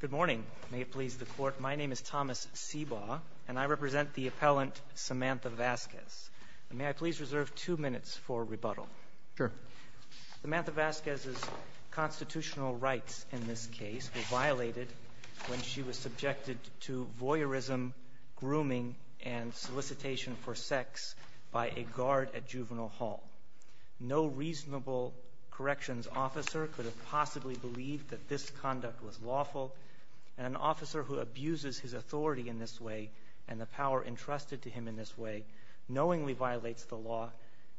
Good morning. May it please the Court, my name is Thomas Sebaugh and I represent the appellant Samantha Vazquez. May I please reserve two minutes for rebuttal? Sure. Samantha Vazquez's constitutional rights in this case were violated when she was subjected to voyeurism, grooming and solicitation for sex by a guard at Juvenile Hall. No reasonable corrections officer could possibly believe that this conduct was lawful. An officer who abuses his authority in this way and the power entrusted to him in this way knowingly violates the law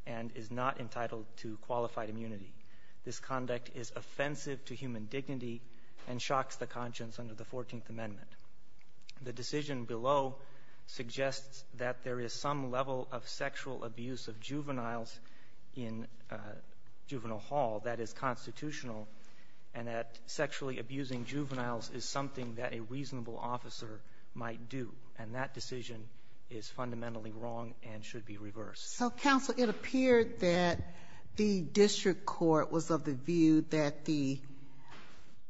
and is not entitled to qualified immunity. This conduct is offensive to human dignity and shocks the conscience under the 14th Amendment. The decision below suggests that there is some level of sexual abuse of and that sexually abusing juveniles is something that a reasonable officer might do and that decision is fundamentally wrong and should be reversed. So counsel it appeared that the district court was of the view that the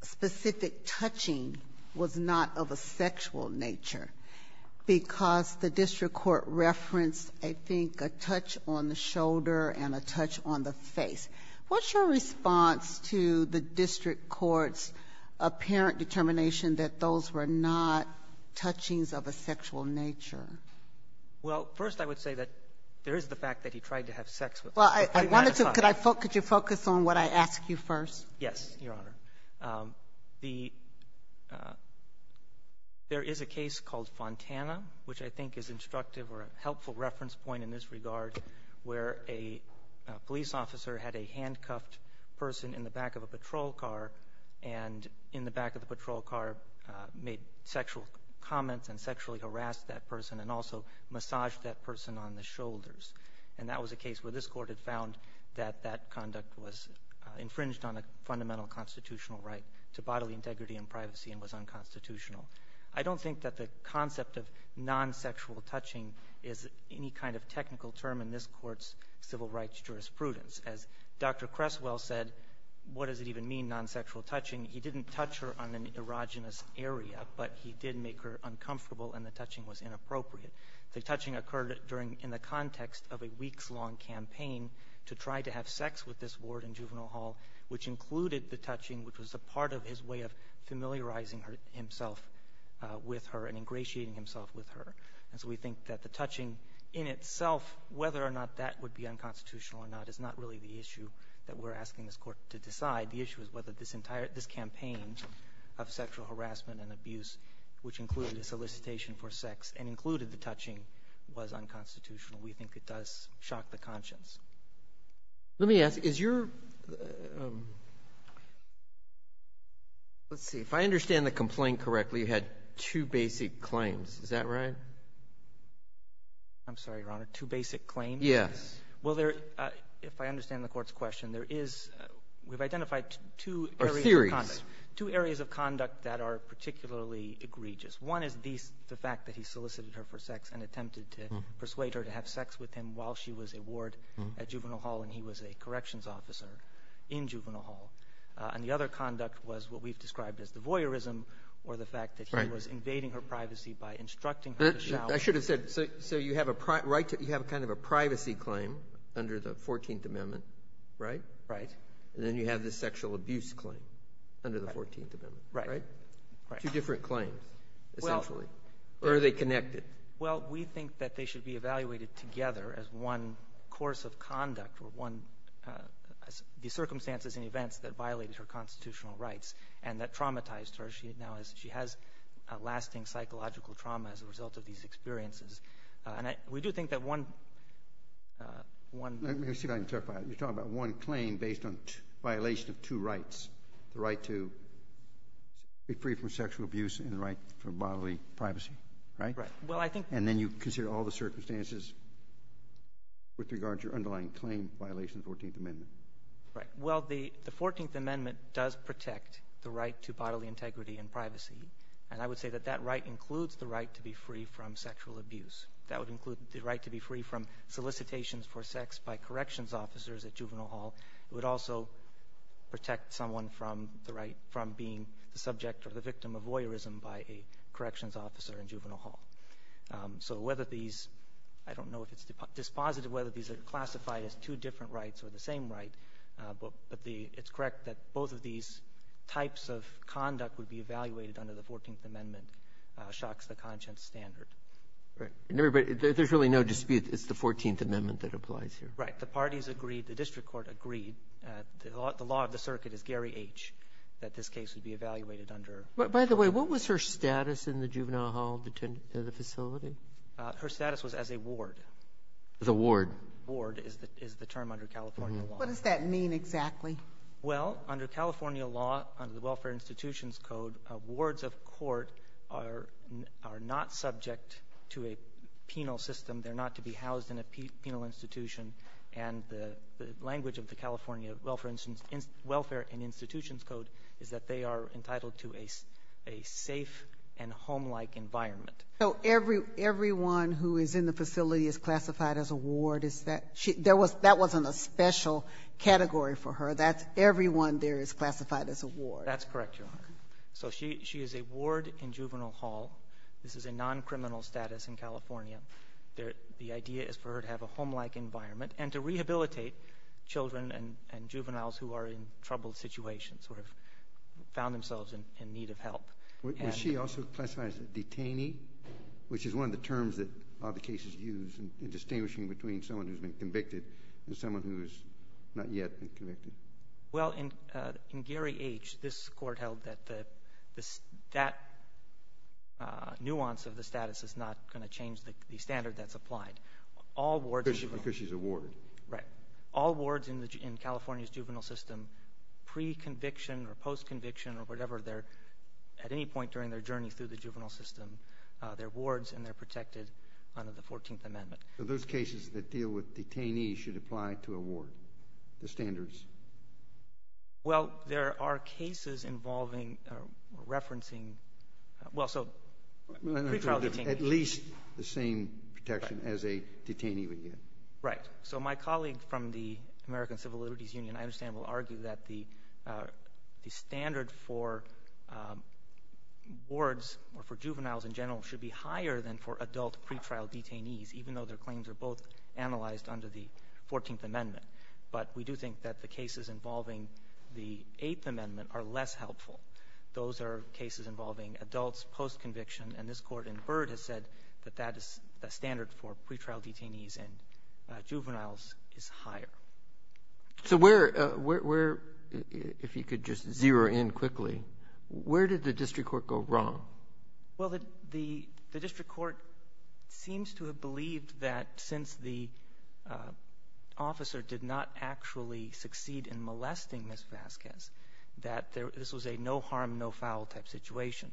specific touching was not of a sexual nature because the district court referenced I think a touch on the shoulder and a touch on the district court's apparent determination that those were not touchings of a sexual nature. Well first I would say that there is the fact that he tried to have sex with her. Well I wanted to could I focus your focus on what I asked you first? Yes your honor. The there is a case called Fontana which I think is instructive or a helpful reference point in this regard where a police officer had a handcuffed person in the back of a patrol car and in the back of the patrol car made sexual comments and sexually harassed that person and also massaged that person on the shoulders and that was a case where this court had found that that conduct was infringed on a fundamental constitutional right to bodily integrity and privacy and was unconstitutional. I don't think that the concept of non-sexual touching is any kind of technical term in this as Dr. Creswell said what does it even mean non-sexual touching? He didn't touch her on an erogenous area but he did make her uncomfortable and the touching was inappropriate. The touching occurred during in the context of a weeks-long campaign to try to have sex with this ward in juvenile hall which included the touching which was a part of his way of familiarizing himself with her and ingratiating himself with her and so we think that the touching in itself whether or not that would be unconstitutional or not is not really the issue that we're asking this court to decide the issue is whether this entire this campaign of sexual harassment and abuse which included a solicitation for sex and included the touching was unconstitutional we think it does shock the conscience. Let me ask is your let's see if I understand the complaint correctly you had two basic claims is that right? I'm sorry your honor two basic claims? Yes. Well there if I understand the court's question there is we've identified two areas of conduct two areas of conduct that are particularly egregious one is these the fact that he solicited her for sex and attempted to persuade her to have sex with him while she was a ward at juvenile hall and he was a corrections officer in juvenile hall and the other conduct was what we've described as the voyeurism or the fact that he was invading her I should have said so so you have a right to you have a kind of a privacy claim under the 14th amendment right? Right. And then you have the sexual abuse claim under the 14th amendment right? Two different claims essentially or are they connected? Well we think that they should be evaluated together as one course of conduct or one the circumstances and events that violated her constitutional rights and that traumatized her she now has she has a lasting psychological trauma as a result of these experiences and I we do think that one one let me see if I can clarify you're talking about one claim based on violation of two rights the right to be free from sexual abuse and the right for bodily privacy right? Right. Well I think and then you consider all the circumstances with regards your underlying claim violation 14th amendment. Right well the the 14th amendment does protect the right to bodily integrity and privacy and I would say that right includes the right to be free from sexual abuse that would include the right to be free from solicitations for sex by corrections officers at juvenile hall it would also protect someone from the right from being the subject or the victim of voyeurism by a corrections officer in juvenile hall so whether these I don't know if it's dispositive whether these are classified as two different rights or the same right but the it's correct that both of these types of conduct would be evaluated under the 14th amendment shocks the conscience standard. Right and everybody there's really no dispute it's the 14th amendment that applies here. Right the parties agreed the district court agreed the law of the circuit is Gary H that this case would be evaluated under. By the way what was her status in the juvenile hall the facility? Her status was as a ward. The ward. Ward is the is the term under California law. What does that mean exactly? Well under California law under the welfare institutions code wards of court are are not subject to a penal system they're not to be housed in a penal institution and the language of the California welfare instance welfare and institutions code is that they are entitled to a a safe and home-like environment. So every everyone who is in the facility is classified as a ward is that there was that wasn't a special category for her that's everyone there is classified as a ward. That's correct your honor so she she is a ward in juvenile hall this is a non-criminal status in California there the idea is for her to have a home-like environment and to rehabilitate children and and juveniles who are in troubled situations or have found themselves in need of help. Was she also classified as a detainee which is one of the terms that all the cases use in between someone who's been convicted and someone who's not yet been convicted? Well in in Gary H this court held that the this that nuance of the status is not going to change the the standard that's applied. All wards because she's a ward right all wards in the in California's juvenile system pre-conviction or post-conviction or whatever they're at any point during their journey through the juvenile system they're wards and they're protected under the 14th amendment. Those cases that deal with detainees should apply to a ward the standards? Well there are cases involving referencing well so at least the same protection as a detainee would get. Right so my colleague from the American Civil Liberties Union I understand will argue that the the standard for wards or for juveniles in general should be higher than for adult pre-trial detainees even though their claims are both analyzed under the 14th amendment. But we do think that the cases involving the 8th amendment are less helpful. Those are cases involving adults post-conviction and this court in Byrd has said that that is the standard for pre-trial detainees and juveniles is higher. So where where if you could just zero in quickly where did the district court go wrong? Well the the district court seems to have believed that since the officer did not actually succeed in molesting Miss Vasquez that there this was a no harm no foul type situation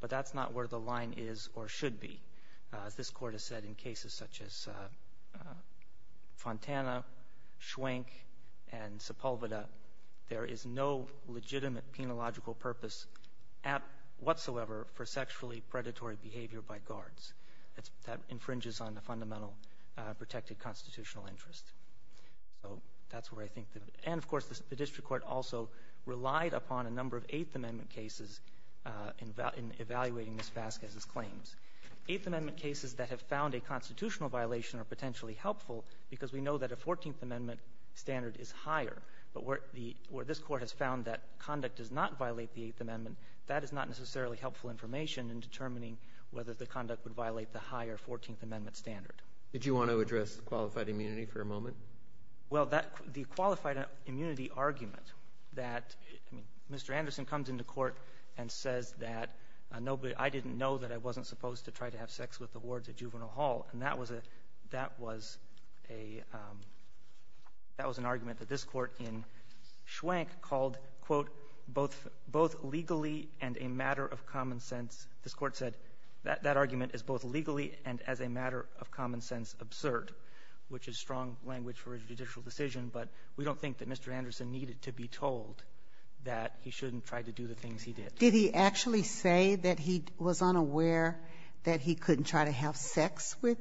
but that's not where the line is or should be as this court has said in cases such as Fontana, Schwenk and Sepulveda there is no legitimate penological purpose at whatsoever for sexually predatory behavior by guards. That's that infringes on the fundamental protected constitutional interest. So that's where I think that and of course the district court also relied upon a number of 8th amendment cases in evaluating Miss Vasquez's claims. 8th amendment cases that have found a constitutional violation are potentially helpful because we know that a 14th amendment standard is higher but where the where this court has found that conduct does not violate the 8th amendment that is not necessarily helpful information in determining whether the conduct would violate the higher 14th amendment standard. Did you want to address qualified immunity for a moment? Well that the qualified immunity argument that I mean Mr. Anderson comes into court and says that nobody I didn't know that I wasn't supposed to try to have sex with the wards at juvenile hall and that was a that was a that was an argument that this court in Schwenk called quote both both legally and a matter of common sense. This court said that that argument is both legally and as a matter of common sense absurd which is strong language for a judicial decision. But we don't think that Mr. Anderson needed to be told that he shouldn't try to do the things he did. Did he actually say that he was unaware that he couldn't try to have sex with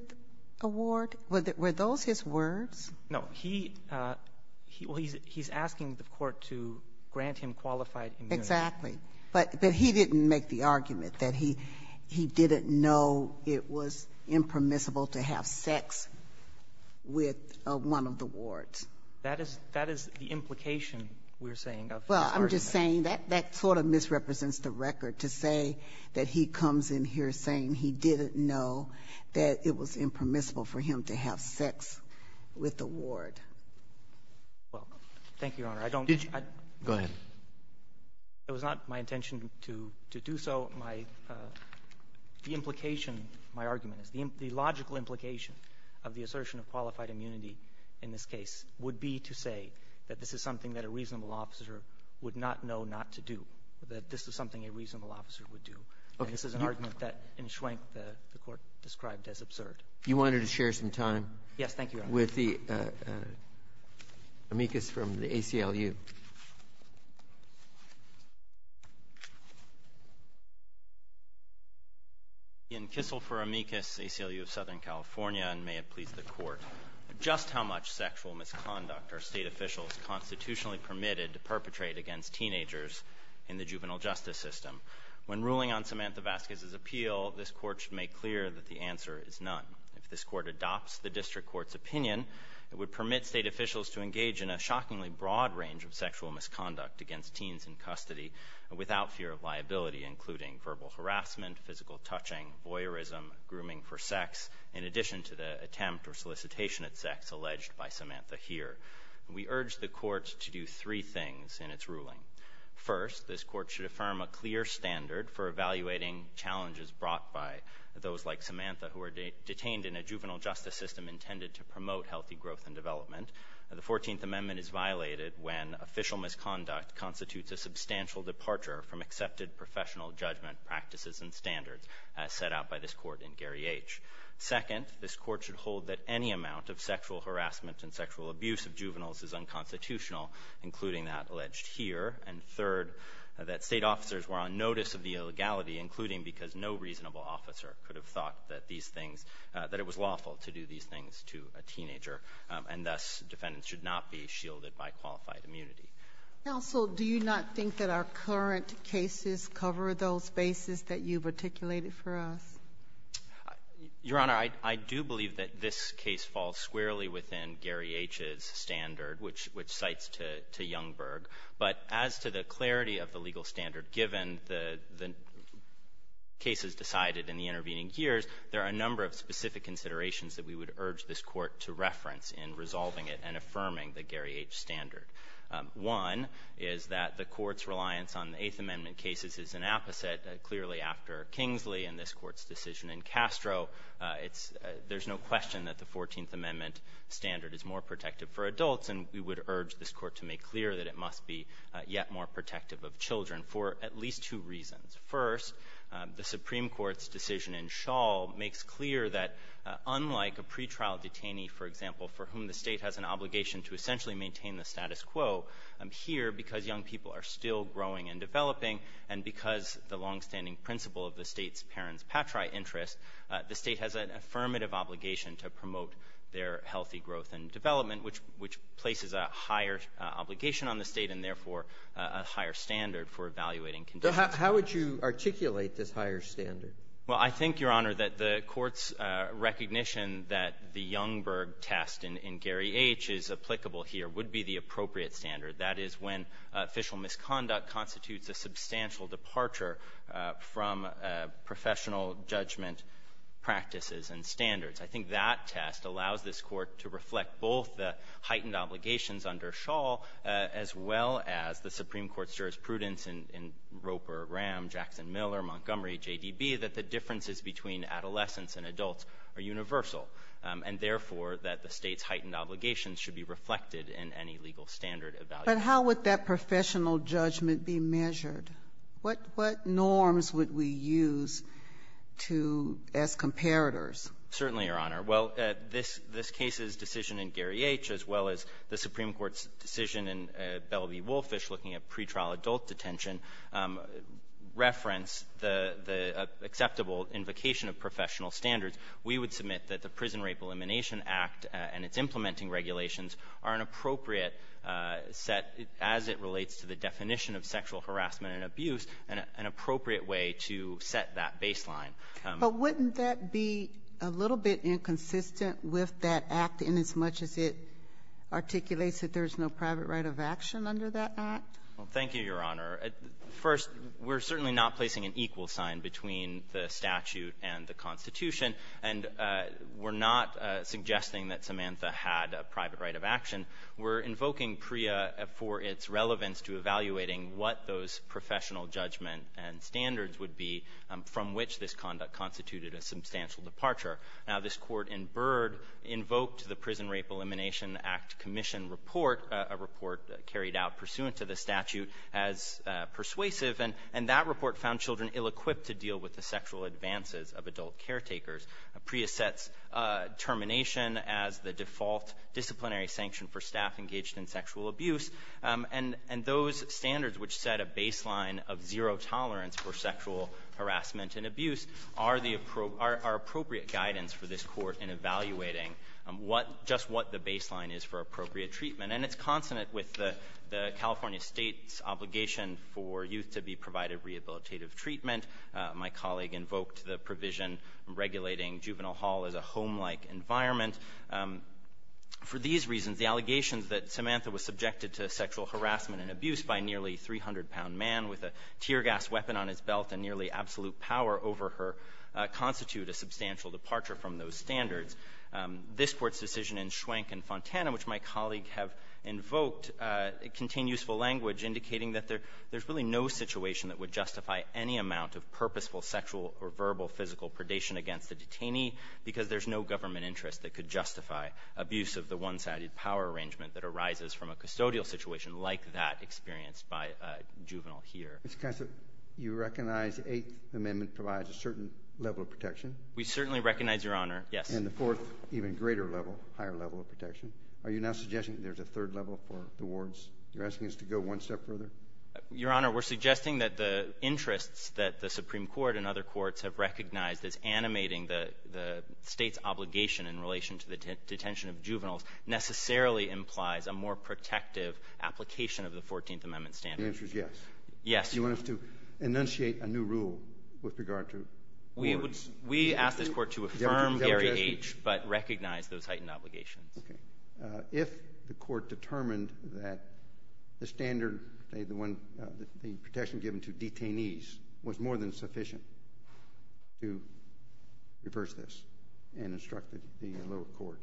a ward? Were those his words? No. He he's asking the court to grant him qualified immunity. Exactly. But but he didn't make the argument that he he didn't know it was impermissible to have sex with one of the wards. That is that is the implication we're saying. Well I'm just saying that that sort of misrepresents the record to say that he comes in here saying he didn't know that it was impermissible for him to have sex with a ward. Well, thank you, Your Honor. I don't Did you? Go ahead. It was not my intention to to do so. My the implication my argument is the the logical implication of the assertion of qualified immunity in this case would be to say that this is something that a reasonable officer would not know not to do. That this is something a reasonable officer would do. Okay. This is an argument that in Schwenk the the court described as absurd. You wanted to share some time. Yes. Thank you. With the amicus from the ACLU. In Kissel for amicus, ACLU of Southern California, and may it please the Court. Just how much sexual misconduct are State officials constitutionally permitted to perpetrate against teenagers in the juvenile justice system? When ruling on Samantha Vasquez's appeal, this Court should make clear that the answer is none. If this Court adopts the district court's opinion, it would permit State officials to engage in a shockingly broad range of sexual misconduct against teens in custody without fear of liability, including verbal harassment, physical touching, voyeurism, grooming for sex. In addition to the attempt or solicitation at sex alleged by Samantha here, we urge the court to do three things in its ruling. First, this court should affirm a clear standard for evaluating challenges brought by those like Samantha who were detained in a juvenile justice system intended to promote healthy growth and development. The 14th Amendment is violated when official misconduct constitutes a substantial departure from accepted professional judgment practices and standards as set out by this court in Gary H. Second, this court should hold that any amount of sexual harassment and sexual abuse of juveniles is unconstitutional, including that alleged here. And third, that State officers were on notice of the illegality, including because no one thought that these things — that it was lawful to do these things to a teenager, and thus defendants should not be shielded by qualified immunity. Ginsburg-McCarrick. Counsel, do you not think that our current cases cover those bases that you've articulated for us? McHenry. Your Honor, I do believe that this case falls squarely within Gary H.'s standard, which — which cites to Youngberg. But as to the clarity of the legal standard given the — the cases decided in the intervening years, there are a number of specific considerations that we would urge this Court to reference in resolving it and affirming the Gary H. standard. One is that the Court's reliance on the Eighth Amendment cases is an apposite. Clearly, after Kingsley and this Court's decision in Castro, it's — there's no question that the 14th Amendment standard is more protective for adults, and we would urge this Court to make clear that it must be yet more protective of children for at least two reasons. First, the Supreme Court's decision in Schall makes clear that, unlike a pretrial detainee, for example, for whom the State has an obligation to essentially maintain the status quo, here, because young people are still growing and developing and because the longstanding principle of the State's parents' patriot interest, the State has an affirmative obligation to promote their healthy growth and development, which — which places a higher obligation on the State and, therefore, a higher standard for evaluating conditions. So how would you articulate this higher standard? Well, I think, Your Honor, that the Court's recognition that the Youngberg test in Gary H. is applicable here would be the appropriate standard. That is when official misconduct constitutes a substantial departure from professional judgment practices and standards. I think that test allows this Court to reflect both the heightened obligations under Schall, as well as the Supreme Court's jurisprudence in Roper, Graham, Jackson, Miller, Montgomery, JDB, that the differences between adolescents and adults are universal, and, therefore, that the State's heightened obligations should be reflected in any legal standard evaluation. But how would that professional judgment be measured? What norms would we use to — as comparators? Certainly, Your Honor. Well, this — this case's decision in Gary H., as well as the Supreme Court's decision in Bell v. Wolfish looking at pretrial adult detention, reference the — the acceptable invocation of professional standards. We would submit that the Prison Rape Elimination Act and its implementing regulations are an appropriate set, as it relates to the definition of sexual harassment and abuse, an appropriate way to set that baseline. But wouldn't that be a little bit inconsistent with that act inasmuch as it articulates that there's no private right of action under that act? Well, thank you, Your Honor. First, we're certainly not placing an equal sign between the statute and the Constitution, and we're not suggesting that Samantha had a private right of action. We're invoking PREA for its relevance to evaluating what those professional judgment and standards would be from which this conduct constituted a substantial departure. Now, this Court in Byrd invoked the Prison Rape Elimination Act Commission report, a report carried out pursuant to the statute as persuasive, and — and that report found children ill-equipped to deal with the sexual advances of adult caretakers. PREA sets termination as the default disciplinary sanction for staff engaged in sexual abuse, and — and those standards which set a baseline of zero tolerance for sexual harassment and abuse are the — are appropriate guidance for this Court in evaluating what — just what the baseline is for appropriate treatment. And it's consonant with the California state's obligation for youth to be provided rehabilitative treatment. My colleague invoked the provision regulating juvenile hall as a home-like environment. For these reasons, the allegations that Samantha was subjected to sexual harassment and abuse by a nearly 300-pound man with a tear gas weapon on his belt and nearly absolute power over her constitute a substantial departure from those standards. This Court's decision in Schwenk and Fontana, which my colleague have invoked, contain useful language indicating that there's really no situation that would justify any amount of purposeful sexual or verbal physical predation against the detainee because there's no government interest that could justify abuse of the one-sided power arrangement that arises from a custodial situation like that experienced by a juvenile here. Mr. Kasich, you recognize the Eighth Amendment provides a certain level of protection? We certainly recognize, Your Honor. Yes. And the fourth, even greater level, higher level of protection. Are you now suggesting there's a third level for the wards? You're asking us to go one step further? Your Honor, we're suggesting that the interests that the Supreme Court and other courts have recognized as animating the State's obligation in relation to the detention of juveniles necessarily implies a more protective application of the Fourteenth Amendment standard. The answer is yes. Yes. You want us to enunciate a new rule with regard to wards? We ask this Court to affirm Gary H., but recognize those heightened obligations. Okay. If the Court determined that the standard, the one, the protection given to detainees was more than sufficient to reverse this and instruct the lower court,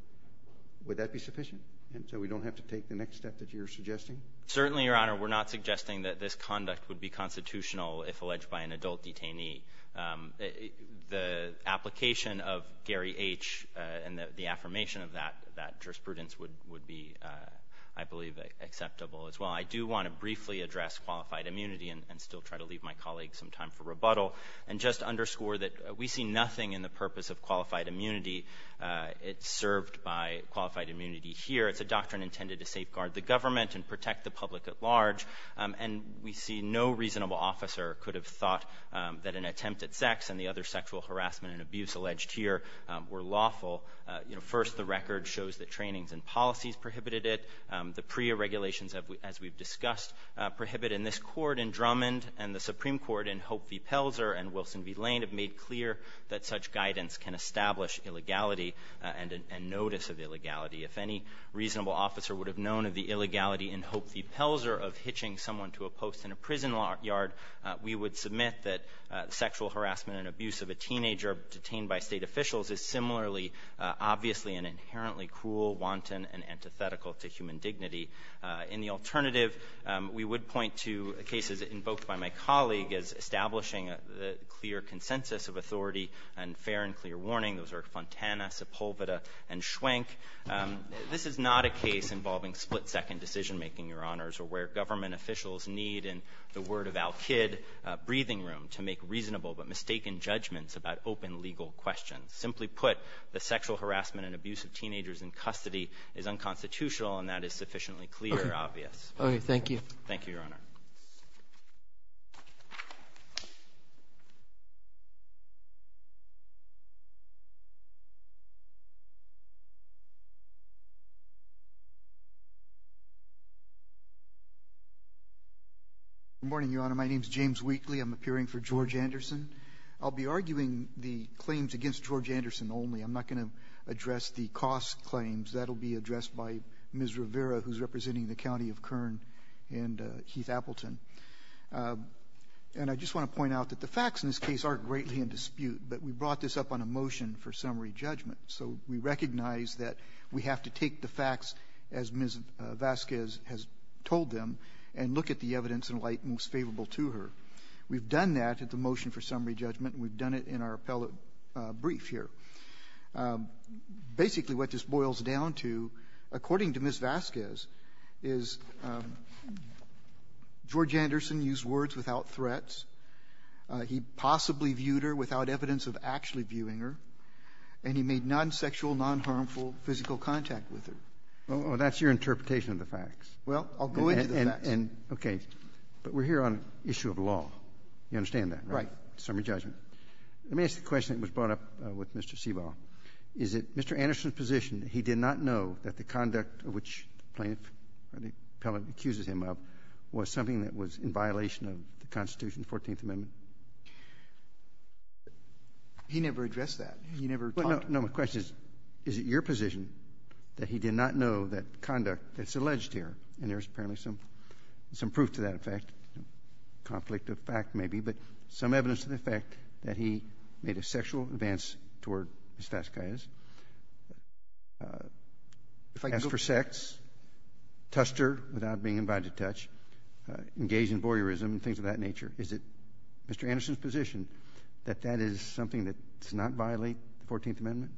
would that be sufficient? And so we don't have to take the next step that you're suggesting? Certainly, Your Honor, we're not suggesting that this conduct would be constitutional if alleged by an adult detainee. The application of Gary H. and the affirmation of that jurisprudence would be, I believe, acceptable as well. I do want to briefly address qualified immunity and still try to leave my colleague some time for rebuttal. And just underscore that we see nothing in the purpose of qualified immunity. It's served by qualified immunity here. It's a doctrine intended to safeguard the government and protect the public at large. And we see no reasonable officer could have thought that an attempt at sex and the other sexual harassment and abuse alleged here were lawful. You know, first, the record shows that trainings and policies prohibited it. The PREA regulations, as we've discussed, prohibit in this court in Drummond and the Supreme Court in Hope v. Pelzer and Wilson v. Lane have made clear that such guidance can establish illegality and notice of illegality. If any reasonable officer would have known of the illegality in Hope v. Pelzer of hitching someone to a post in a prison yard, we would submit that sexual harassment and abuse of a teenager detained by State officials is similarly obviously and inherently cruel, wanton, and antithetical to human dignity. In the alternative, we would point to cases invoked by my colleague as establishing a clear consensus of authority and fair and clear warning. Those are Fontana, Sepulveda, and Schwenk. This is not a case involving split-second decision-making, Your Honors, or where government officials need, in the word of Al Kidd, a breathing room to make reasonable but mistaken judgments about open legal questions. Simply put, the sexual harassment and abuse of teenagers in custody is unconstitutional, and that is sufficiently clear, obvious. Okay. Thank you. Thank you, Your Honor. Good morning, Your Honor. My name is James Wheatley. I'm appearing for George Anderson. I'll be arguing the claims against George Anderson only. I'm not going to address the cost claims. That'll be addressed by Ms. Rivera, who's representing the County of Kern and Heath Appleton. And I just want to point out that the facts in this case aren't greatly in dispute, but we brought this up on a motion for summary judgment. So we recognize that we have to take the facts, as Ms. Vasquez has told them, and look at the evidence in light most favorable to her. We've done that at the motion for summary judgment, and we've done it in our appellate brief here. Basically, what this boils down to, according to Ms. Vasquez, is George Anderson used words without threats. He possibly viewed her without evidence of actually viewing her, and he made no comments of any non-sexual, non-harmful physical contact with her. Well, that's your interpretation of the facts. Well, I'll go into the facts. And, okay. But we're here on an issue of law. You understand that, right? Right. Summary judgment. Let me ask the question that was brought up with Mr. Seabrough. Is it Mr. Anderson's position that he did not know that the conduct of which the plaintiff or the appellate accuses him of was something that was in violation of the Constitution, the Fourteenth Amendment? He never addressed that. He never talked about it. No, my question is, is it your position that he did not know that conduct that's alleged here, and there's apparently some proof to that effect, conflict of fact maybe, but some evidence to the effect that he made a sexual advance toward Ms. Vasquez, asked for sex, tussed her without being invited to touch, engaged in voyeurism and things of that nature. Is it Mr. Anderson's position that that is something that does not violate the Fourteenth Amendment?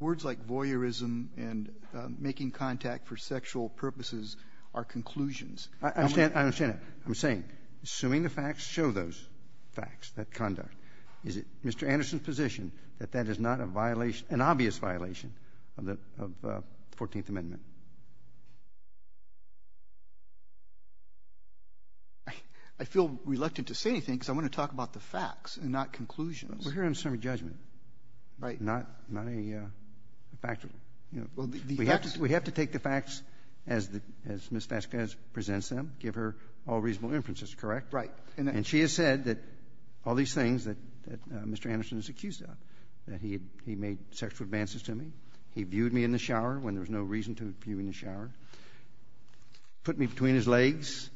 Words like voyeurism and making contact for sexual purposes are conclusions. I understand. I understand that. I'm saying, assuming the facts show those facts, that conduct, is it Mr. Anderson's position that that is not a violation, an obvious violation of the Fourteenth Amendment? I feel reluctant to say anything because I want to talk about the facts and not conclusions. We're here on a summary judgment, not a factual. We have to take the facts as Ms. Vasquez presents them, give her all reasonable inferences, correct? Right. And she has said that all these things that Mr. Anderson is accused of, that he made sexual advances to me, he viewed me in the shower when there was no reason to view me in the shower, put me between his legs,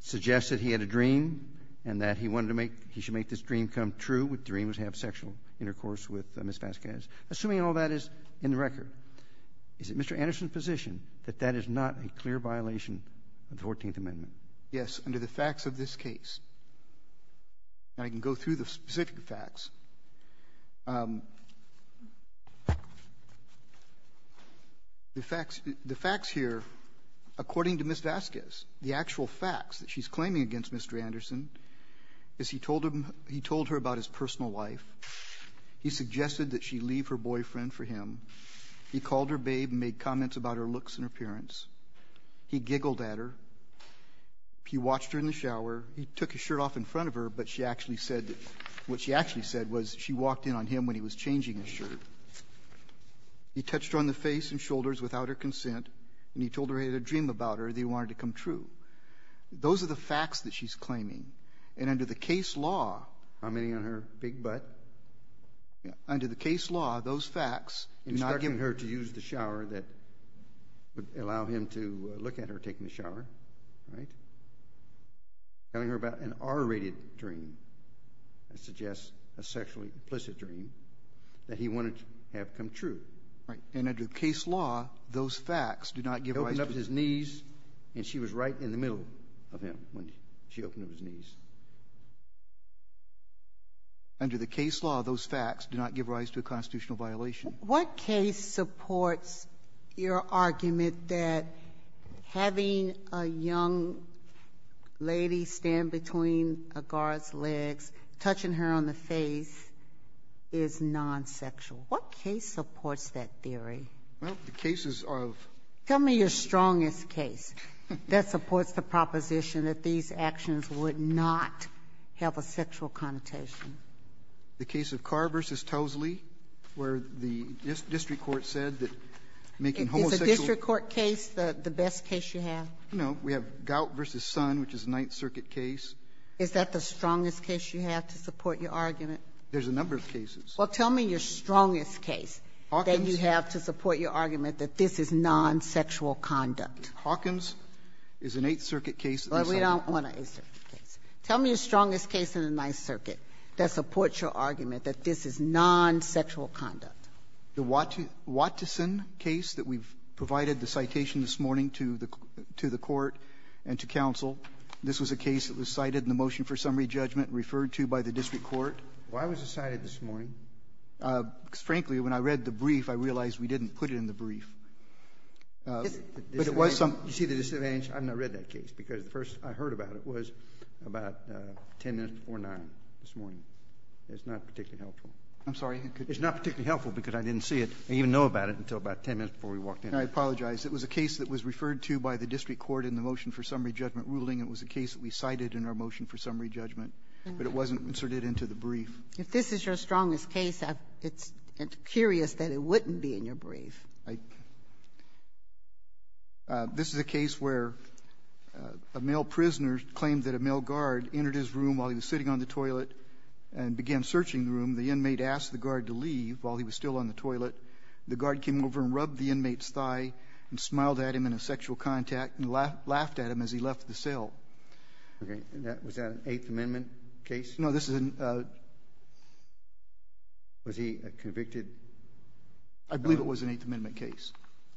suggested he had a dream and that he wanted to make, he should make this dream come true. The dream was to have sexual intercourse with Ms. Vasquez. Assuming all that is in the record, is it Mr. Anderson's position that that is not a clear violation of the Fourteenth Amendment? Yes, under the facts of this case. And I can go through the specific facts. The facts here, according to Ms. Vasquez, the actual facts that she's claiming against Mr. Anderson is he told her about his personal life, he suggested that she leave her boyfriend for him, he called her babe and made comments about her looks and appearance, he giggled at her, he watched her in the shower, he took his shirt off in front of her, but she actually said that what she actually said was she walked in on him when he was changing his shirt, he touched her on the face and shoulders without her consent, and he told her he had a dream about her that he wanted to come true. Those are the facts that she's claiming, and under the case law --- How many on her big butt? But under the case law, those facts do not give her to use the shower that would allow him to look at her taking a shower, right, telling her about an R-rated dream that suggests a sexually implicit dream that he wanted to have come true. Right. And under the case law, those facts do not give rise to the- He opened up his knees and she was right in the middle of him when she opened up his knees. Under the case law, those facts do not give rise to a constitutional violation. What case supports your argument that having a young lady stand between a guard's legs, touching her on the face, is nonsexual? What case supports that theory? Well, the cases of- The case of Carr v. Towsley, where the district court said that making homosexual- Is the district court case the best case you have? No. We have Gout v. Son, which is a Ninth Circuit case. Is that the strongest case you have to support your argument? There's a number of cases. Well, tell me your strongest case that you have to support your argument that this is nonsexual conduct. Hawkins is an Eighth Circuit case- Well, we don't want an Eighth Circuit case. Tell me the strongest case in the Ninth Circuit that supports your argument that this is nonsexual conduct. The Watson case that we've provided the citation this morning to the court and to counsel, this was a case that was cited in the motion for summary judgment, referred to by the district court. Why was it cited this morning? Because, frankly, when I read the brief, I realized we didn't put it in the brief. But it was some- You see the disadvantage? I've not read that case, because the first I heard about it was about ten minutes before 9 this morning. It's not particularly helpful. I'm sorry. It's not particularly helpful because I didn't see it and even know about it until about ten minutes before we walked in. I apologize. It was a case that was referred to by the district court in the motion for summary judgment ruling. It was a case that we cited in our motion for summary judgment, but it wasn't inserted into the brief. If this is your strongest case, I'm curious that it wouldn't be in your brief. I — this is a case where a male prisoner claimed that a male guard entered his room while he was sitting on the toilet and began searching the room. The inmate asked the guard to leave while he was still on the toilet. The guard came over and rubbed the inmate's thigh and smiled at him in a sexual contact and laughed at him as he left the cell. Okay. And that — was that an Eighth Amendment case? No. This is an — Was he convicted? I believe it was an Eighth Amendment case.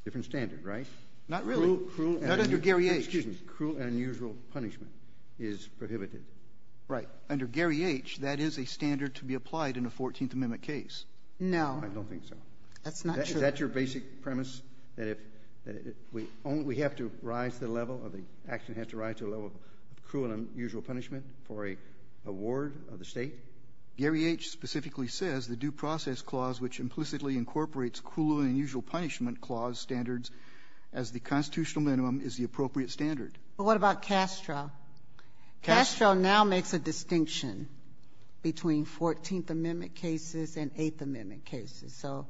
Different standard, right? Not really. Not under Gary H. Excuse me. Cruel and unusual punishment is prohibited. Right. Under Gary H., that is a standard to be applied in a Fourteenth Amendment case. No. I don't think so. That's not true. Is that your basic premise, that if — that we only — we have to rise to the level of the — action has to rise to the level of cruel and unusual punishment for a ward of the State? Gary H. specifically says the Due Process Clause, which implicitly incorporates cruel and unusual punishment clause standards as the constitutional minimum, is the appropriate standard. But what about Castro? Castro now makes a distinction between Fourteenth Amendment cases and Eighth Amendment cases. So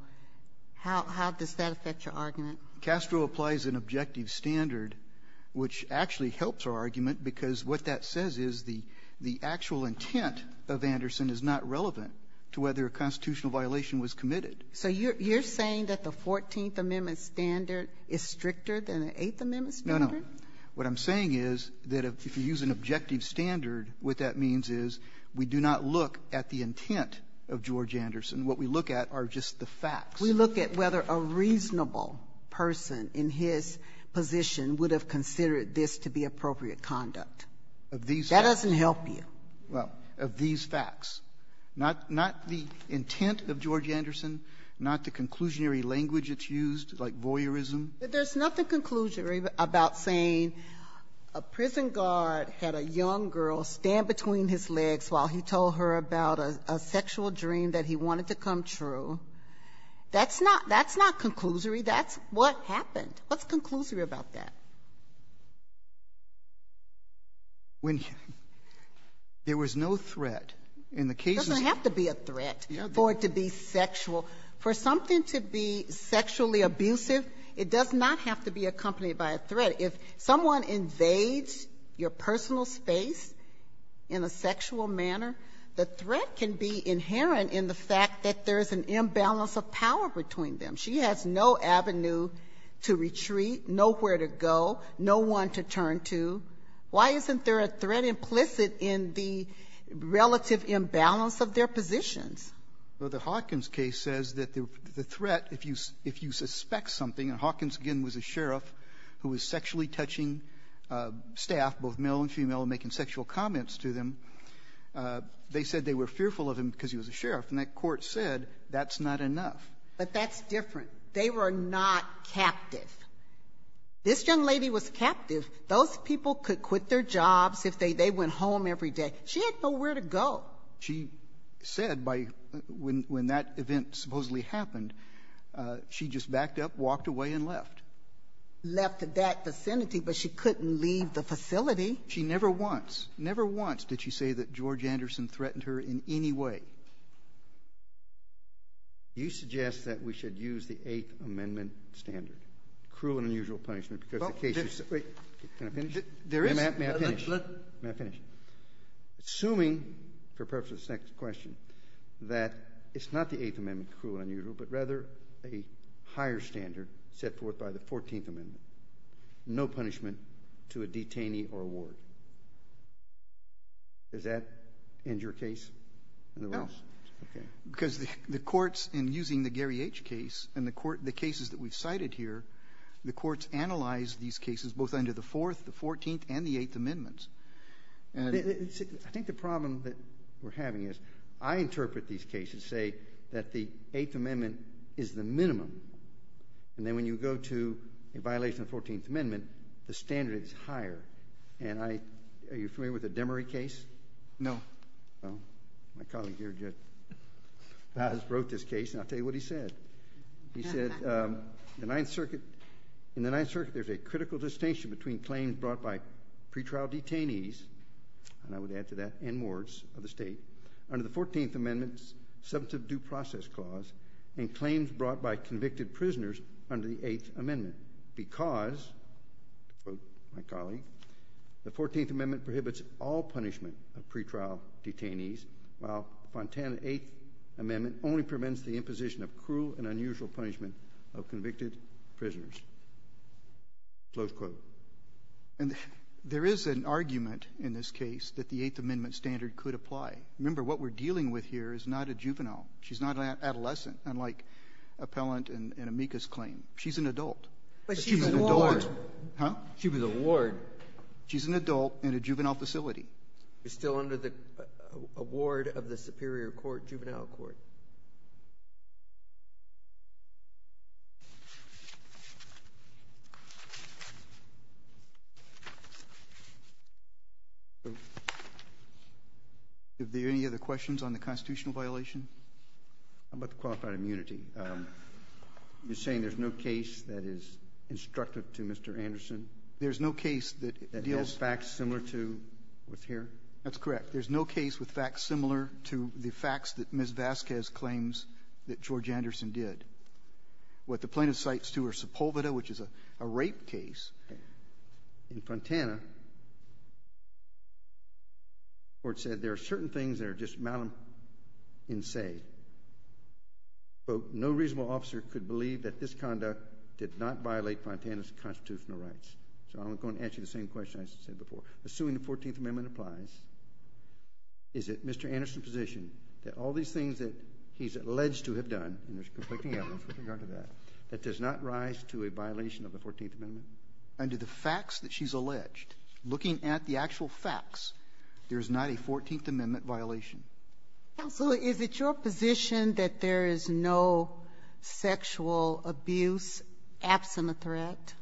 how — how does that affect your argument? Castro applies an objective standard, which actually helps our argument, because what that says is the actual intent of Anderson is not relevant to whether a constitutional violation was committed. So you're saying that the Fourteenth Amendment standard is stricter than the Eighth Amendment standard? No, no. What I'm saying is that if you use an objective standard, what that means is we do not look at the intent of George Anderson. What we look at are just the facts. We look at whether a reasonable person in his position would have considered this to be appropriate conduct. Of these facts. That doesn't help you. Well, of these facts. Not — not the intent of George Anderson, not the conclusionary language that's used, like voyeurism. But there's nothing conclusionary about saying a prison guard had a young girl stand between his legs while he told her about a sexual dream that he wanted to come true. That's not — that's not conclusory. That's what happened. What's conclusory about that? When there was no threat, in the case of — It doesn't have to be a threat for it to be sexual. For something to be sexually abusive, it does not have to be accompanied by a threat. If someone invades your personal space in a sexual manner, the threat can be inherent in the fact that there is an imbalance of power between them. She has no avenue to retreat, nowhere to go, no one to turn to. Why isn't there a threat implicit in the relative imbalance of their positions? Well, the Hawkins case says that the threat, if you — if you suspect something — and Hawkins, again, was a sheriff who was sexually touching staff, both male and female, and making sexual comments to them. They said they were fearful of him because he was a sheriff. And that court said that's not enough. But that's different. They were not captive. This young lady was captive. Those people could quit their jobs if they — they went home every day. She had nowhere to go. She said by — when that event supposedly happened, she just backed up, walked away, and left. Left that vicinity, but she couldn't leave the facility. She never once — never once did she say that George Anderson threatened her in any way. You suggest that we should use the Eighth Amendment standard, cruel and unusual punishment, because the case is — Well, there's — Wait. Can I finish? There is — May I finish? Let — May I finish? Assuming, for purpose of this next question, that it's not the Eighth Amendment, cruel and unusual, but rather a higher standard set forth by the Fourteenth Amendment, no punishment to a detainee or a ward, does that end your case in the Yes. Okay. Because the courts, in using the Gary H. case and the court — the cases that we've cited here, the courts analyzed these cases both under the Fourth, the Fourteenth, and the Eighth Amendments. And — I think the problem that we're having is I interpret these cases, say, that the Eighth Amendment is the minimum, and then when you go to a violation of the Fourteenth Amendment, the standard is higher. And I — are you familiar with the Demery case? No. Well, my colleague here just — has wrote this case, and I'll tell you what he said. He said, the Ninth Circuit — in the Ninth Circuit, there's a critical distinction between claims brought by pretrial detainees — and I would add to that N wards of the state — under the Fourteenth Amendment's substantive due process clause, and claims brought by convicted prisoners under the Eighth Amendment. Because, to quote my colleague, the Fourteenth Amendment prohibits all punishment of pretrial detainees, while the Fontana Eighth Amendment only prevents the imposition of cruel and unusual punishment of convicted prisoners, close quote. And there is an argument in this case that the Eighth Amendment standard could apply. Remember, what we're dealing with here is not a juvenile. She's not an adolescent, unlike Appellant and Amica's claim. She's an adult. But she was a ward. Huh? She was a ward. She's an adult in a juvenile facility. She's still under the award of the Superior Court, juvenile court. Are there any other questions on the constitutional violation? How about the qualified immunity? You're saying there's no case that is instructive to Mr. Anderson? There's no case that deals — That has facts similar to what's here? That's correct. There's no case with facts similar to the facts that Ms. Vasquez claims that George Anderson did. What the plaintiff cites, too, are Sepulveda, which is a rape case. In Fontana, the Court said there are certain things that are just malum in se. Quote, no reasonable officer could believe that this conduct did not violate Fontana's constitutional rights. So I'm going to answer the same question I said before. Assuming the Fourteenth Amendment applies, is it Mr. Anderson's position that all these things that he's alleged to have done — and there's conflicting evidence with regard to that — that does not rise to a violation of the Fourteenth Amendment? Under the facts that she's alleged, looking at the actual facts, there is not a Fourteenth Amendment violation. So is it your position that there is no sexual abuse absent a threat?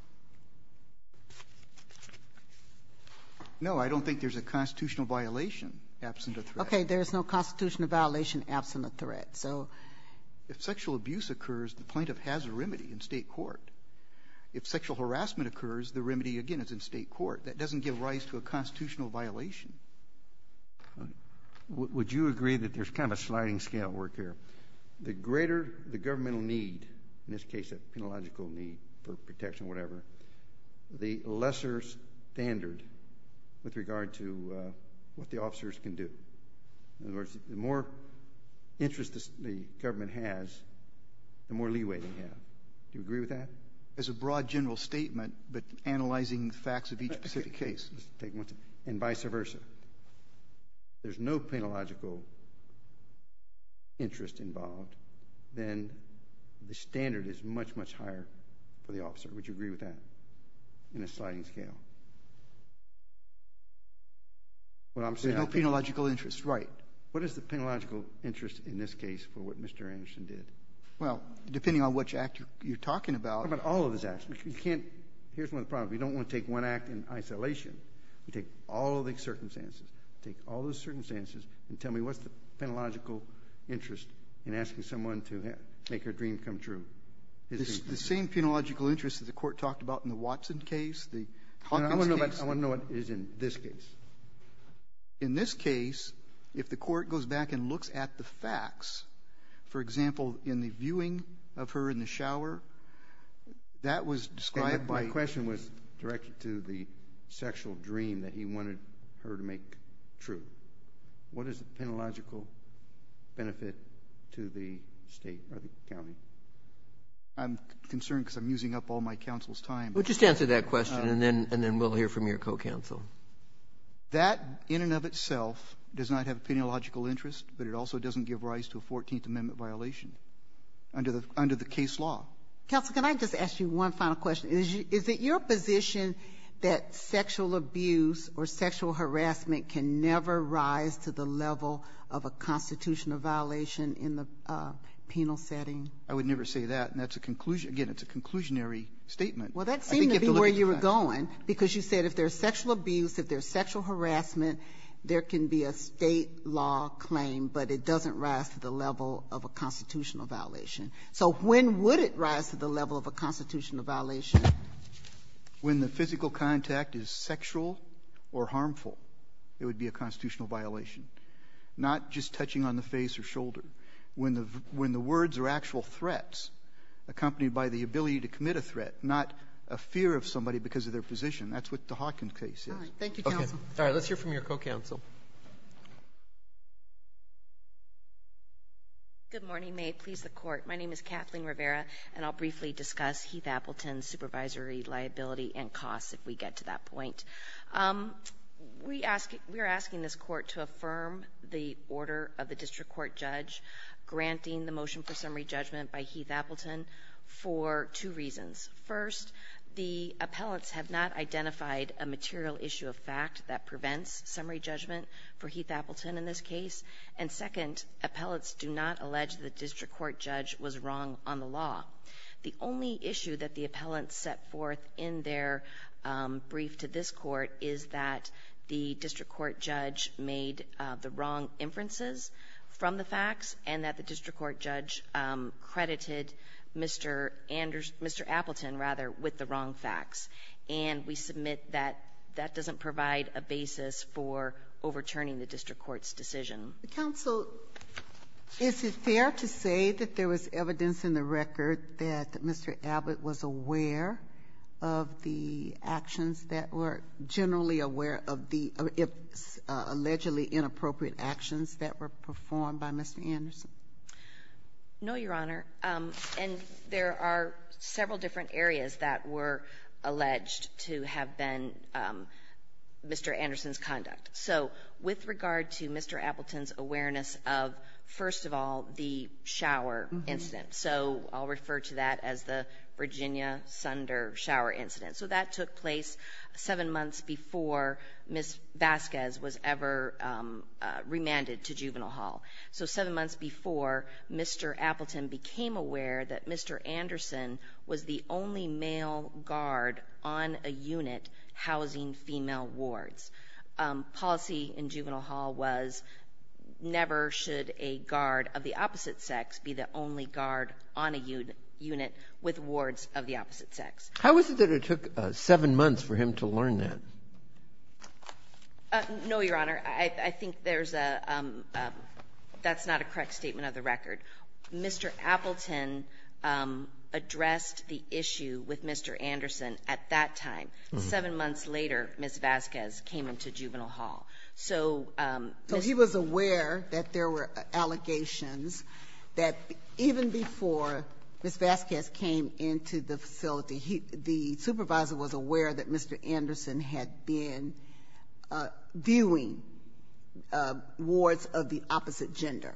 No, I don't think there's a constitutional violation absent a threat. Okay. There is no constitutional violation absent a threat. So if sexual abuse occurs, the plaintiff has a remedy in State court. If sexual harassment occurs, the remedy, again, is in State court. That doesn't give rise to a constitutional violation. Would you agree that there's kind of a sliding scale work here? The greater the governmental need — in this case, a penological need for protection or whatever — the lesser standard with regard to what the officers can do. In other words, the more interest the government has, the more leeway they have. Do you agree with that? As a broad general statement, but analyzing the facts of each specific case. And vice versa. If there's no penological interest involved, then the standard is much, much higher for the officer. Would you agree with that in a sliding scale? There's no penological interest, right. What is the penological interest in this case for what Mr. Anderson did? Well, depending on which act you're talking about — What about all of his acts? You can't — here's one of the problems. You don't want to take one act in isolation. You take all of the circumstances. Take all of the circumstances and tell me what's the penological interest in asking someone to make her dream come true. The same penological interest that the Court talked about in the Watson case, the Hawkins case — I want to know what is in this case. In this case, if the Court goes back and looks at the facts, for example, in the viewing of her in the shower, that was described by — My question was directed to the sexual dream that he wanted her to make true. What is the penological benefit to the State or the County? I'm concerned because I'm using up all my counsel's time. Well, just answer that question, and then we'll hear from your co-counsel. That in and of itself does not have a penological interest, but it also doesn't give rise to a 14th Amendment violation under the case law. Counsel, can I just ask you one final question? Is it your position that sexual abuse or sexual harassment can never rise to the level of a constitutional violation in the penal setting? I would never say that, and that's a conclusion — again, it's a conclusionary statement. Well, that seemed to be where you were going, because you said if there's sexual abuse, if there's sexual harassment, there can be a State law claim, but it doesn't rise to the level of a constitutional violation. So when would it rise to the level of a constitutional violation? When the physical contact is sexual or harmful, it would be a constitutional violation, not just touching on the face or shoulder. When the words are actual threats accompanied by the ability to commit a threat, not a fear of somebody because of their position. That's what the Hawkins case is. All right. Thank you, counsel. Let's hear from your co-counsel. Good morning. May it please the Court. My name is Kathleen Rivera, and I'll briefly discuss Heath-Appleton's supervisory liability and costs if we get to that point. We ask — we are asking this Court to affirm the order of the district court judge granting the motion for summary judgment by Heath-Appleton for two reasons. First, the appellants have not identified a material issue of fact that prevents summary judgment for Heath-Appleton in this case. And second, appellants do not allege the district court judge was wrong on the law. The only issue that the appellants set forth in their brief to this Court is that the district court judge made the wrong inferences from the facts and that the district court judge credited Mr. Appleton, rather, with the wrong facts. And we submit that that doesn't provide a basis for overturning the district court's decision. The counsel, is it fair to say that there was evidence in the record that Mr. Abbott was aware of the actions that were generally aware of the allegedly inappropriate actions that were performed by Mr. Anderson? No, Your Honor. And there are several different areas that were alleged to have been Mr. Anderson's conduct. So with regard to Mr. Appleton's awareness of, first of all, the shower incident. So I'll refer to that as the Virginia Sunder shower incident. So that took place seven months before Ms. Vasquez was ever remanded to Juvenile Hall. So seven months before, Mr. Appleton became aware that Mr. Anderson was the only male guard on a unit housing female wards. Policy in Juvenile Hall was never should a guard of the opposite sex be the only guard on a unit with wards of the opposite sex. How is it that it took seven months for him to learn that? No, Your Honor. I think there's a — that's not a correct statement of the record. Mr. Appleton addressed the issue with Mr. Anderson at that time. Seven months later, Ms. Vasquez came into Juvenile Hall. So — So he was aware that there were allegations that even before Ms. Vasquez came into the facility, the supervisor was aware that Mr. Anderson had been viewing wards of the opposite gender.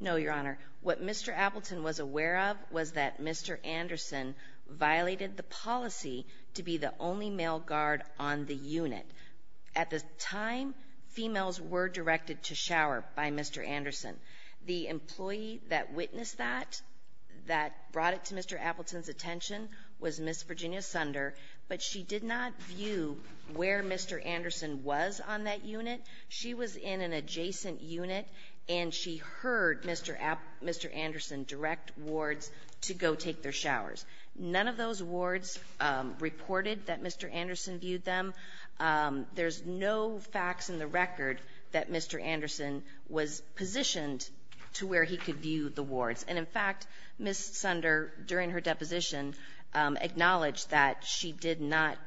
No, Your Honor. What Mr. Appleton was aware of was that Mr. Anderson violated the policy to be the only male guard on the unit. At the time, females were directed to shower by Mr. Anderson. The employee that witnessed that, that brought it to Mr. Appleton's attention, was Ms. Virginia Sunder, but she did not view where Mr. Anderson was on that unit. She was in an adjacent unit, and she heard Mr. Anderson direct wards to go take their showers. None of those wards reported that Mr. Anderson viewed them. There's no facts in the record that Mr. Anderson was positioned to where he could view the wards. And, in fact, Ms. Sunder, during her deposition, acknowledged that she did not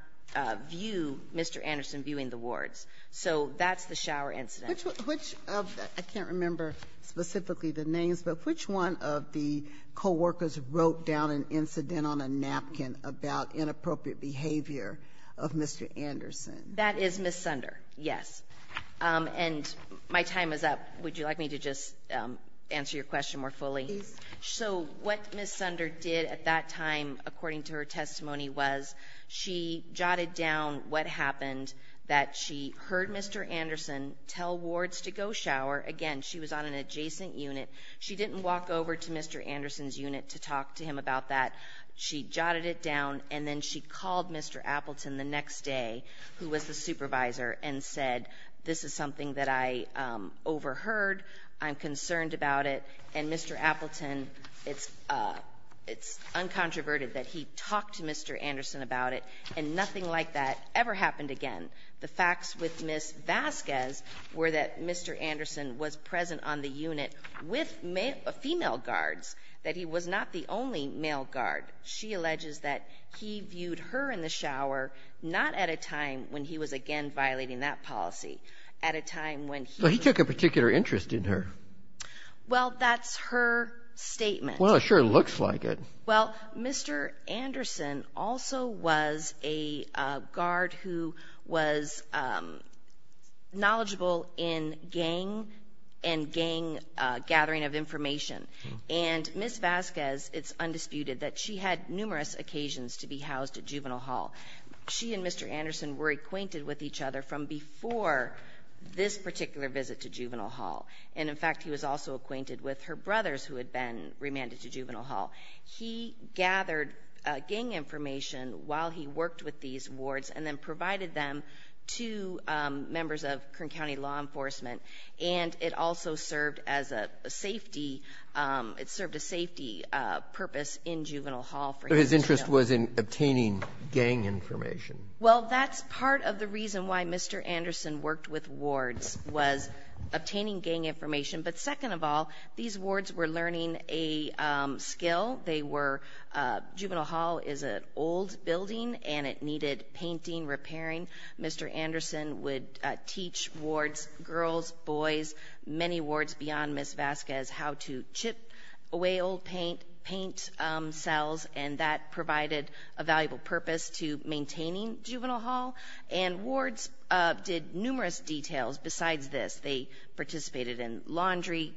view Mr. Anderson viewing the wards. So that's the shower incident. Which of the — I can't remember specifically the names, but which one of the coworkers wrote down an incident on a napkin about inappropriate behavior of Mr. Anderson? That is Ms. Sunder, yes. And my time is up. Would you like me to just answer your question more fully? Please. So what Ms. Sunder did at that time, according to her testimony, was she jotted down what happened, that she heard Mr. Anderson tell wards to go shower. Again, she was on an adjacent unit. She didn't walk over to Mr. Anderson's unit to talk to him about that. She jotted it down, and then she called Mr. Appleton the next day, who was the supervisor, and said, this is something that I overheard, I'm concerned about it. And Mr. Appleton, it's uncontroverted that he talked to Mr. Anderson about it. And nothing like that ever happened again. The facts with Ms. Vasquez were that Mr. Anderson was present on the unit with male — female guards, that he was not the only male guard. She alleges that he viewed her in the shower not at a time when he was, again, violating that policy, at a time when he was — So he took a particular interest in her. Well, that's her statement. Well, it sure looks like it. Well, Mr. Anderson also was a guard who was knowledgeable in gang and gang gathering of information. And Ms. Vasquez, it's undisputed that she had numerous occasions to be housed at Juvenile Hall. She and Mr. Anderson were acquainted with each other from before this particular visit to Juvenile Hall. And, in fact, he was also acquainted with her brothers who had been remanded to Juvenile Hall. He gathered gang information while he worked with these wards and then provided them to members of Kern County law enforcement. And it also served as a safety — it served a safety purpose in Juvenile Hall for him. So his interest was in obtaining gang information. Well, that's part of the reason why Mr. Anderson worked with wards, was obtaining gang information. But second of all, these wards were learning a skill. They were — Juvenile Hall is an old building, and it needed painting, repairing. Mr. Anderson would teach wards, girls, boys, many wards beyond Ms. Vasquez, how to chip away old paint, paint cells, and that provided a valuable purpose to maintaining Juvenile Hall. And wards did numerous details besides this. They participated in laundry,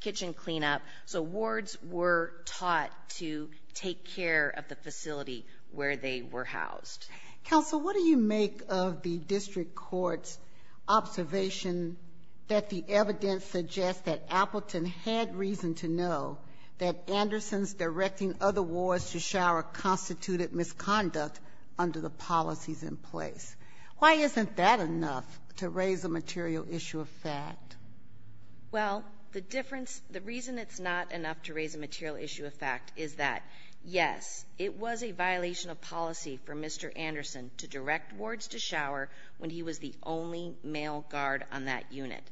kitchen cleanup. So wards were taught to take care of the facility where they were housed. Counsel, what do you make of the district court's observation that the evidence suggests that Appleton had reason to know that Anderson's directing other wards to shower constituted misconduct under the policies in place? Why isn't that enough to raise a material issue of fact? Well, the difference — the reason it's not enough to raise a material issue of fact is that, yes, it was a violation of policy for Mr. Anderson to direct wards to shower when he was the only male guard on that unit.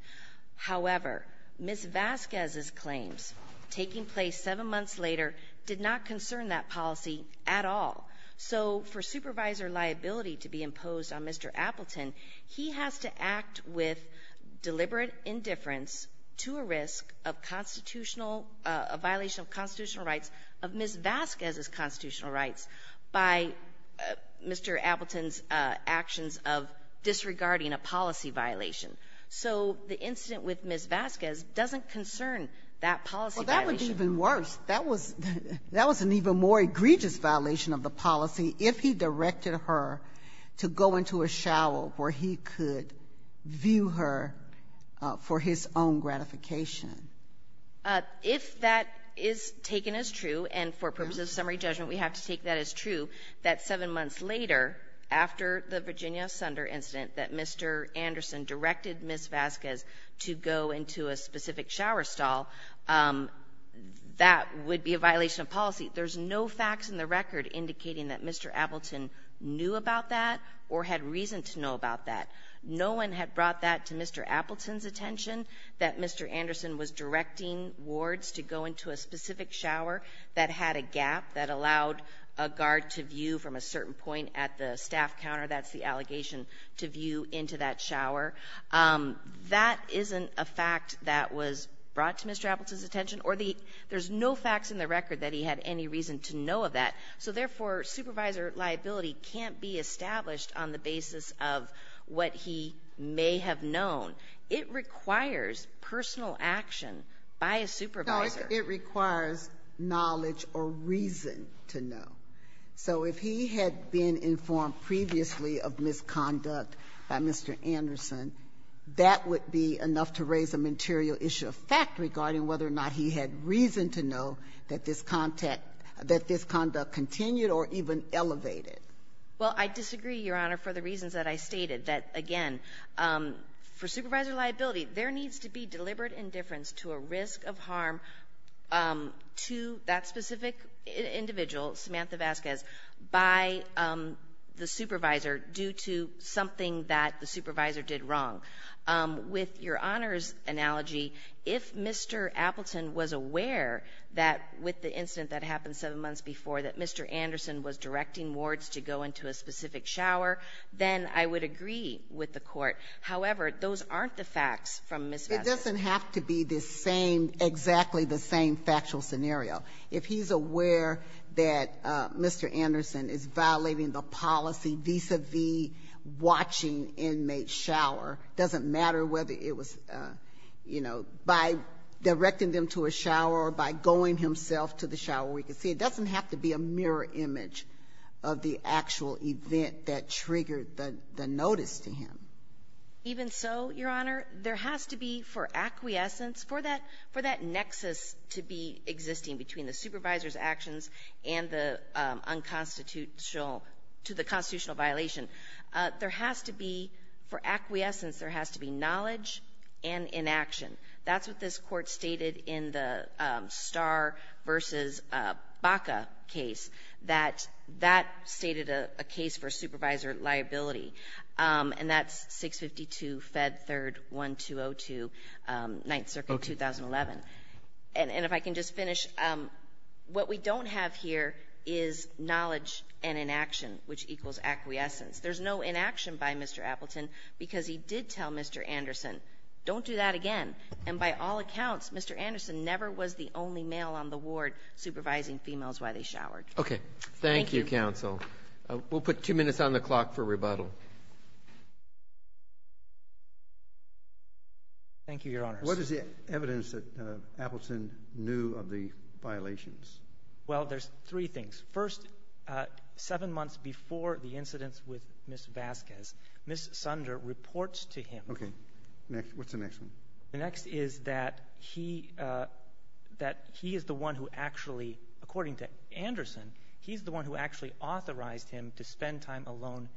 However, Ms. Vasquez's claims, taking place seven months later, did not concern that policy at all. So for supervisor liability to be imposed on Mr. Appleton, he has to act with deliberate indifference to a risk of constitutional — a violation of constitutional rights of Ms. Vasquez's constitutional rights by Mr. Appleton's actions of disregarding a policy violation. So the incident with Ms. Vasquez doesn't concern that policy violation. That was an even more egregious violation of the policy if he directed her to go into a shower where he could view her for his own gratification. If that is taken as true, and for purposes of summary judgment we have to take that as true, that seven months later, after the Virginia Sunder incident, that Mr. Anderson directed Ms. Vasquez to go into a specific shower stall, that would be a violation of policy. There's no facts in the record indicating that Mr. Appleton knew about that or had reason to know about that. No one had brought that to Mr. Appleton's attention, that Mr. Anderson was directing wards to go into a specific shower that had a gap that allowed a guard to view from a certain point at the staff counter. That's the allegation to view into that shower. That isn't a fact that was brought to Mr. Appleton's attention, or the — there's no facts in the record that he had any reason to know of that. So therefore, supervisor liability can't be established on the basis of what he may have known. It requires personal action by a supervisor. It requires knowledge or reason to know. So if he had been informed previously of misconduct by Mr. Anderson, that would be enough to raise a material issue of fact regarding whether or not he had reason to know that this contact — that this conduct continued or even elevated. Well, I disagree, Your Honor, for the reasons that I stated, that, again, for supervisor liability, there needs to be deliberate indifference to a risk of harm to that specific individual, Samantha Vasquez, by the supervisor due to something that the supervisor did wrong. With Your Honor's analogy, if Mr. Appleton was aware that with the incident that happened seven months before that Mr. Anderson was directing wards to go into a specific shower, then I would agree with the Court. However, those aren't the facts from Ms. Vasquez. It doesn't have to be the same — exactly the same factual scenario. If he's aware that Mr. Anderson is violating the policy vis-a-vis watching inmates shower, it doesn't matter whether it was, you know, by directing them to a shower or by going himself to the shower where he could see. It doesn't have to be a mirror image of the actual event that triggered the notice to him. Even so, Your Honor, there has to be, for acquiescence, for that — for that nexus to be existing between the supervisor's actions and the unconstitutional — to the constitutional violation, there has to be — for acquiescence, there has to be knowledge and inaction. That's what this Court stated in the Starr v. Baca case, that that stated a case for supervisor liability, and that's 652 Fed 3rd 1202, 9th Circuit, 2011. And if I can just finish, what we don't have here is knowledge and inaction, which equals acquiescence. There's no inaction by Mr. Appleton because he did tell Mr. Anderson, don't do that again. And by all accounts, Mr. Anderson never was the only male on the ward supervising females while they showered. Okay. Thank you. Thank you, counsel. We'll put two minutes on the clock for rebuttal. Thank you, Your Honors. What is the evidence that Appleton knew of the violations? Well, there's three things. First, seven months before the incidents with Ms. Vasquez, Ms. Sunder reports to him. Okay. What's the next one? The next is that he — that he is the one who actually — according to Anderson, he's the one who actually authorized him to spend time alone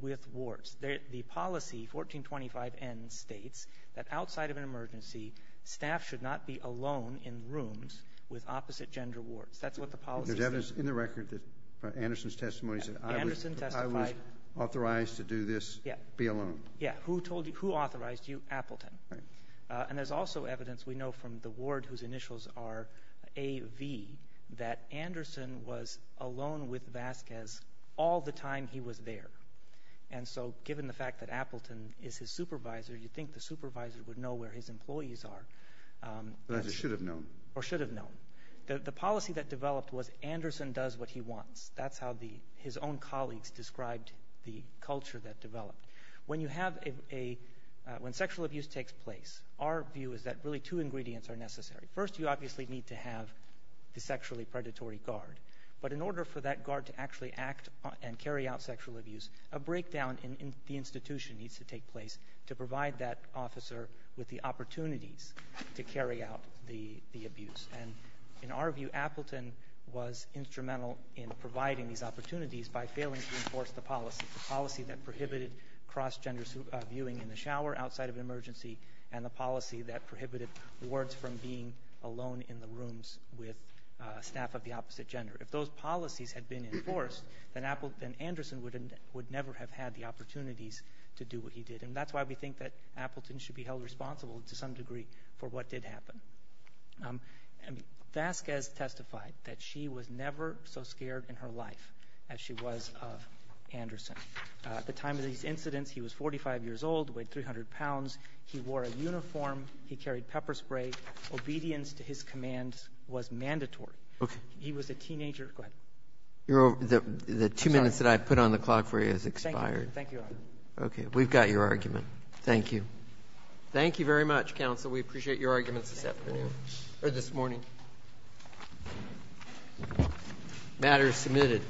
with wards. The policy, 1425N, states that outside of an emergency, staff should not be alone in rooms with opposite-gender wards. That's what the policy says. There's evidence in the record that Anderson's testimony said I was — Anderson testified — I was authorized to do this, be alone. Yeah. Yeah. Who told you — who authorized you? Appleton. Right. And there's also evidence we know from the ward whose initials are A.V. that Anderson was alone with Vasquez all the time he was there. And so given the fact that Appleton is his supervisor, you'd think the supervisor would know where his employees are. But they should have known. Or should have known. The policy that developed was Anderson does what he wants. That's how the — his own colleagues described the culture that developed. When you have a — when sexual abuse takes place, our view is that really two ingredients are necessary. First, you obviously need to have the sexually predatory guard. But in order for that guard to actually act and carry out sexual abuse, a breakdown in the institution needs to take place to provide that officer with the opportunities to carry out the abuse. And in our view, Appleton was instrumental in providing these opportunities by failing to enforce the policy, the policy that prohibited cross-gender viewing in the shower outside of an emergency and the policy that prohibited wards from being alone in the rooms with staff of the opposite gender. If those policies had been enforced, then Anderson would never have had the opportunities to do what he did. And that's why we think that Appleton should be held responsible to some degree for what did happen. Vasquez testified that she was never so scared in her life as she was of Anderson. At the time of these incidents, he was 45 years old, weighed 300 pounds. He wore a uniform. He carried pepper spray. Obedience to his commands was mandatory. Okay. He was a teenager. Go ahead. The two minutes that I put on the clock for you has expired. Thank you, Your Honor. Okay. We've got your argument. Thank you. Thank you very much, counsel. We appreciate your arguments this morning. Matter is submitted.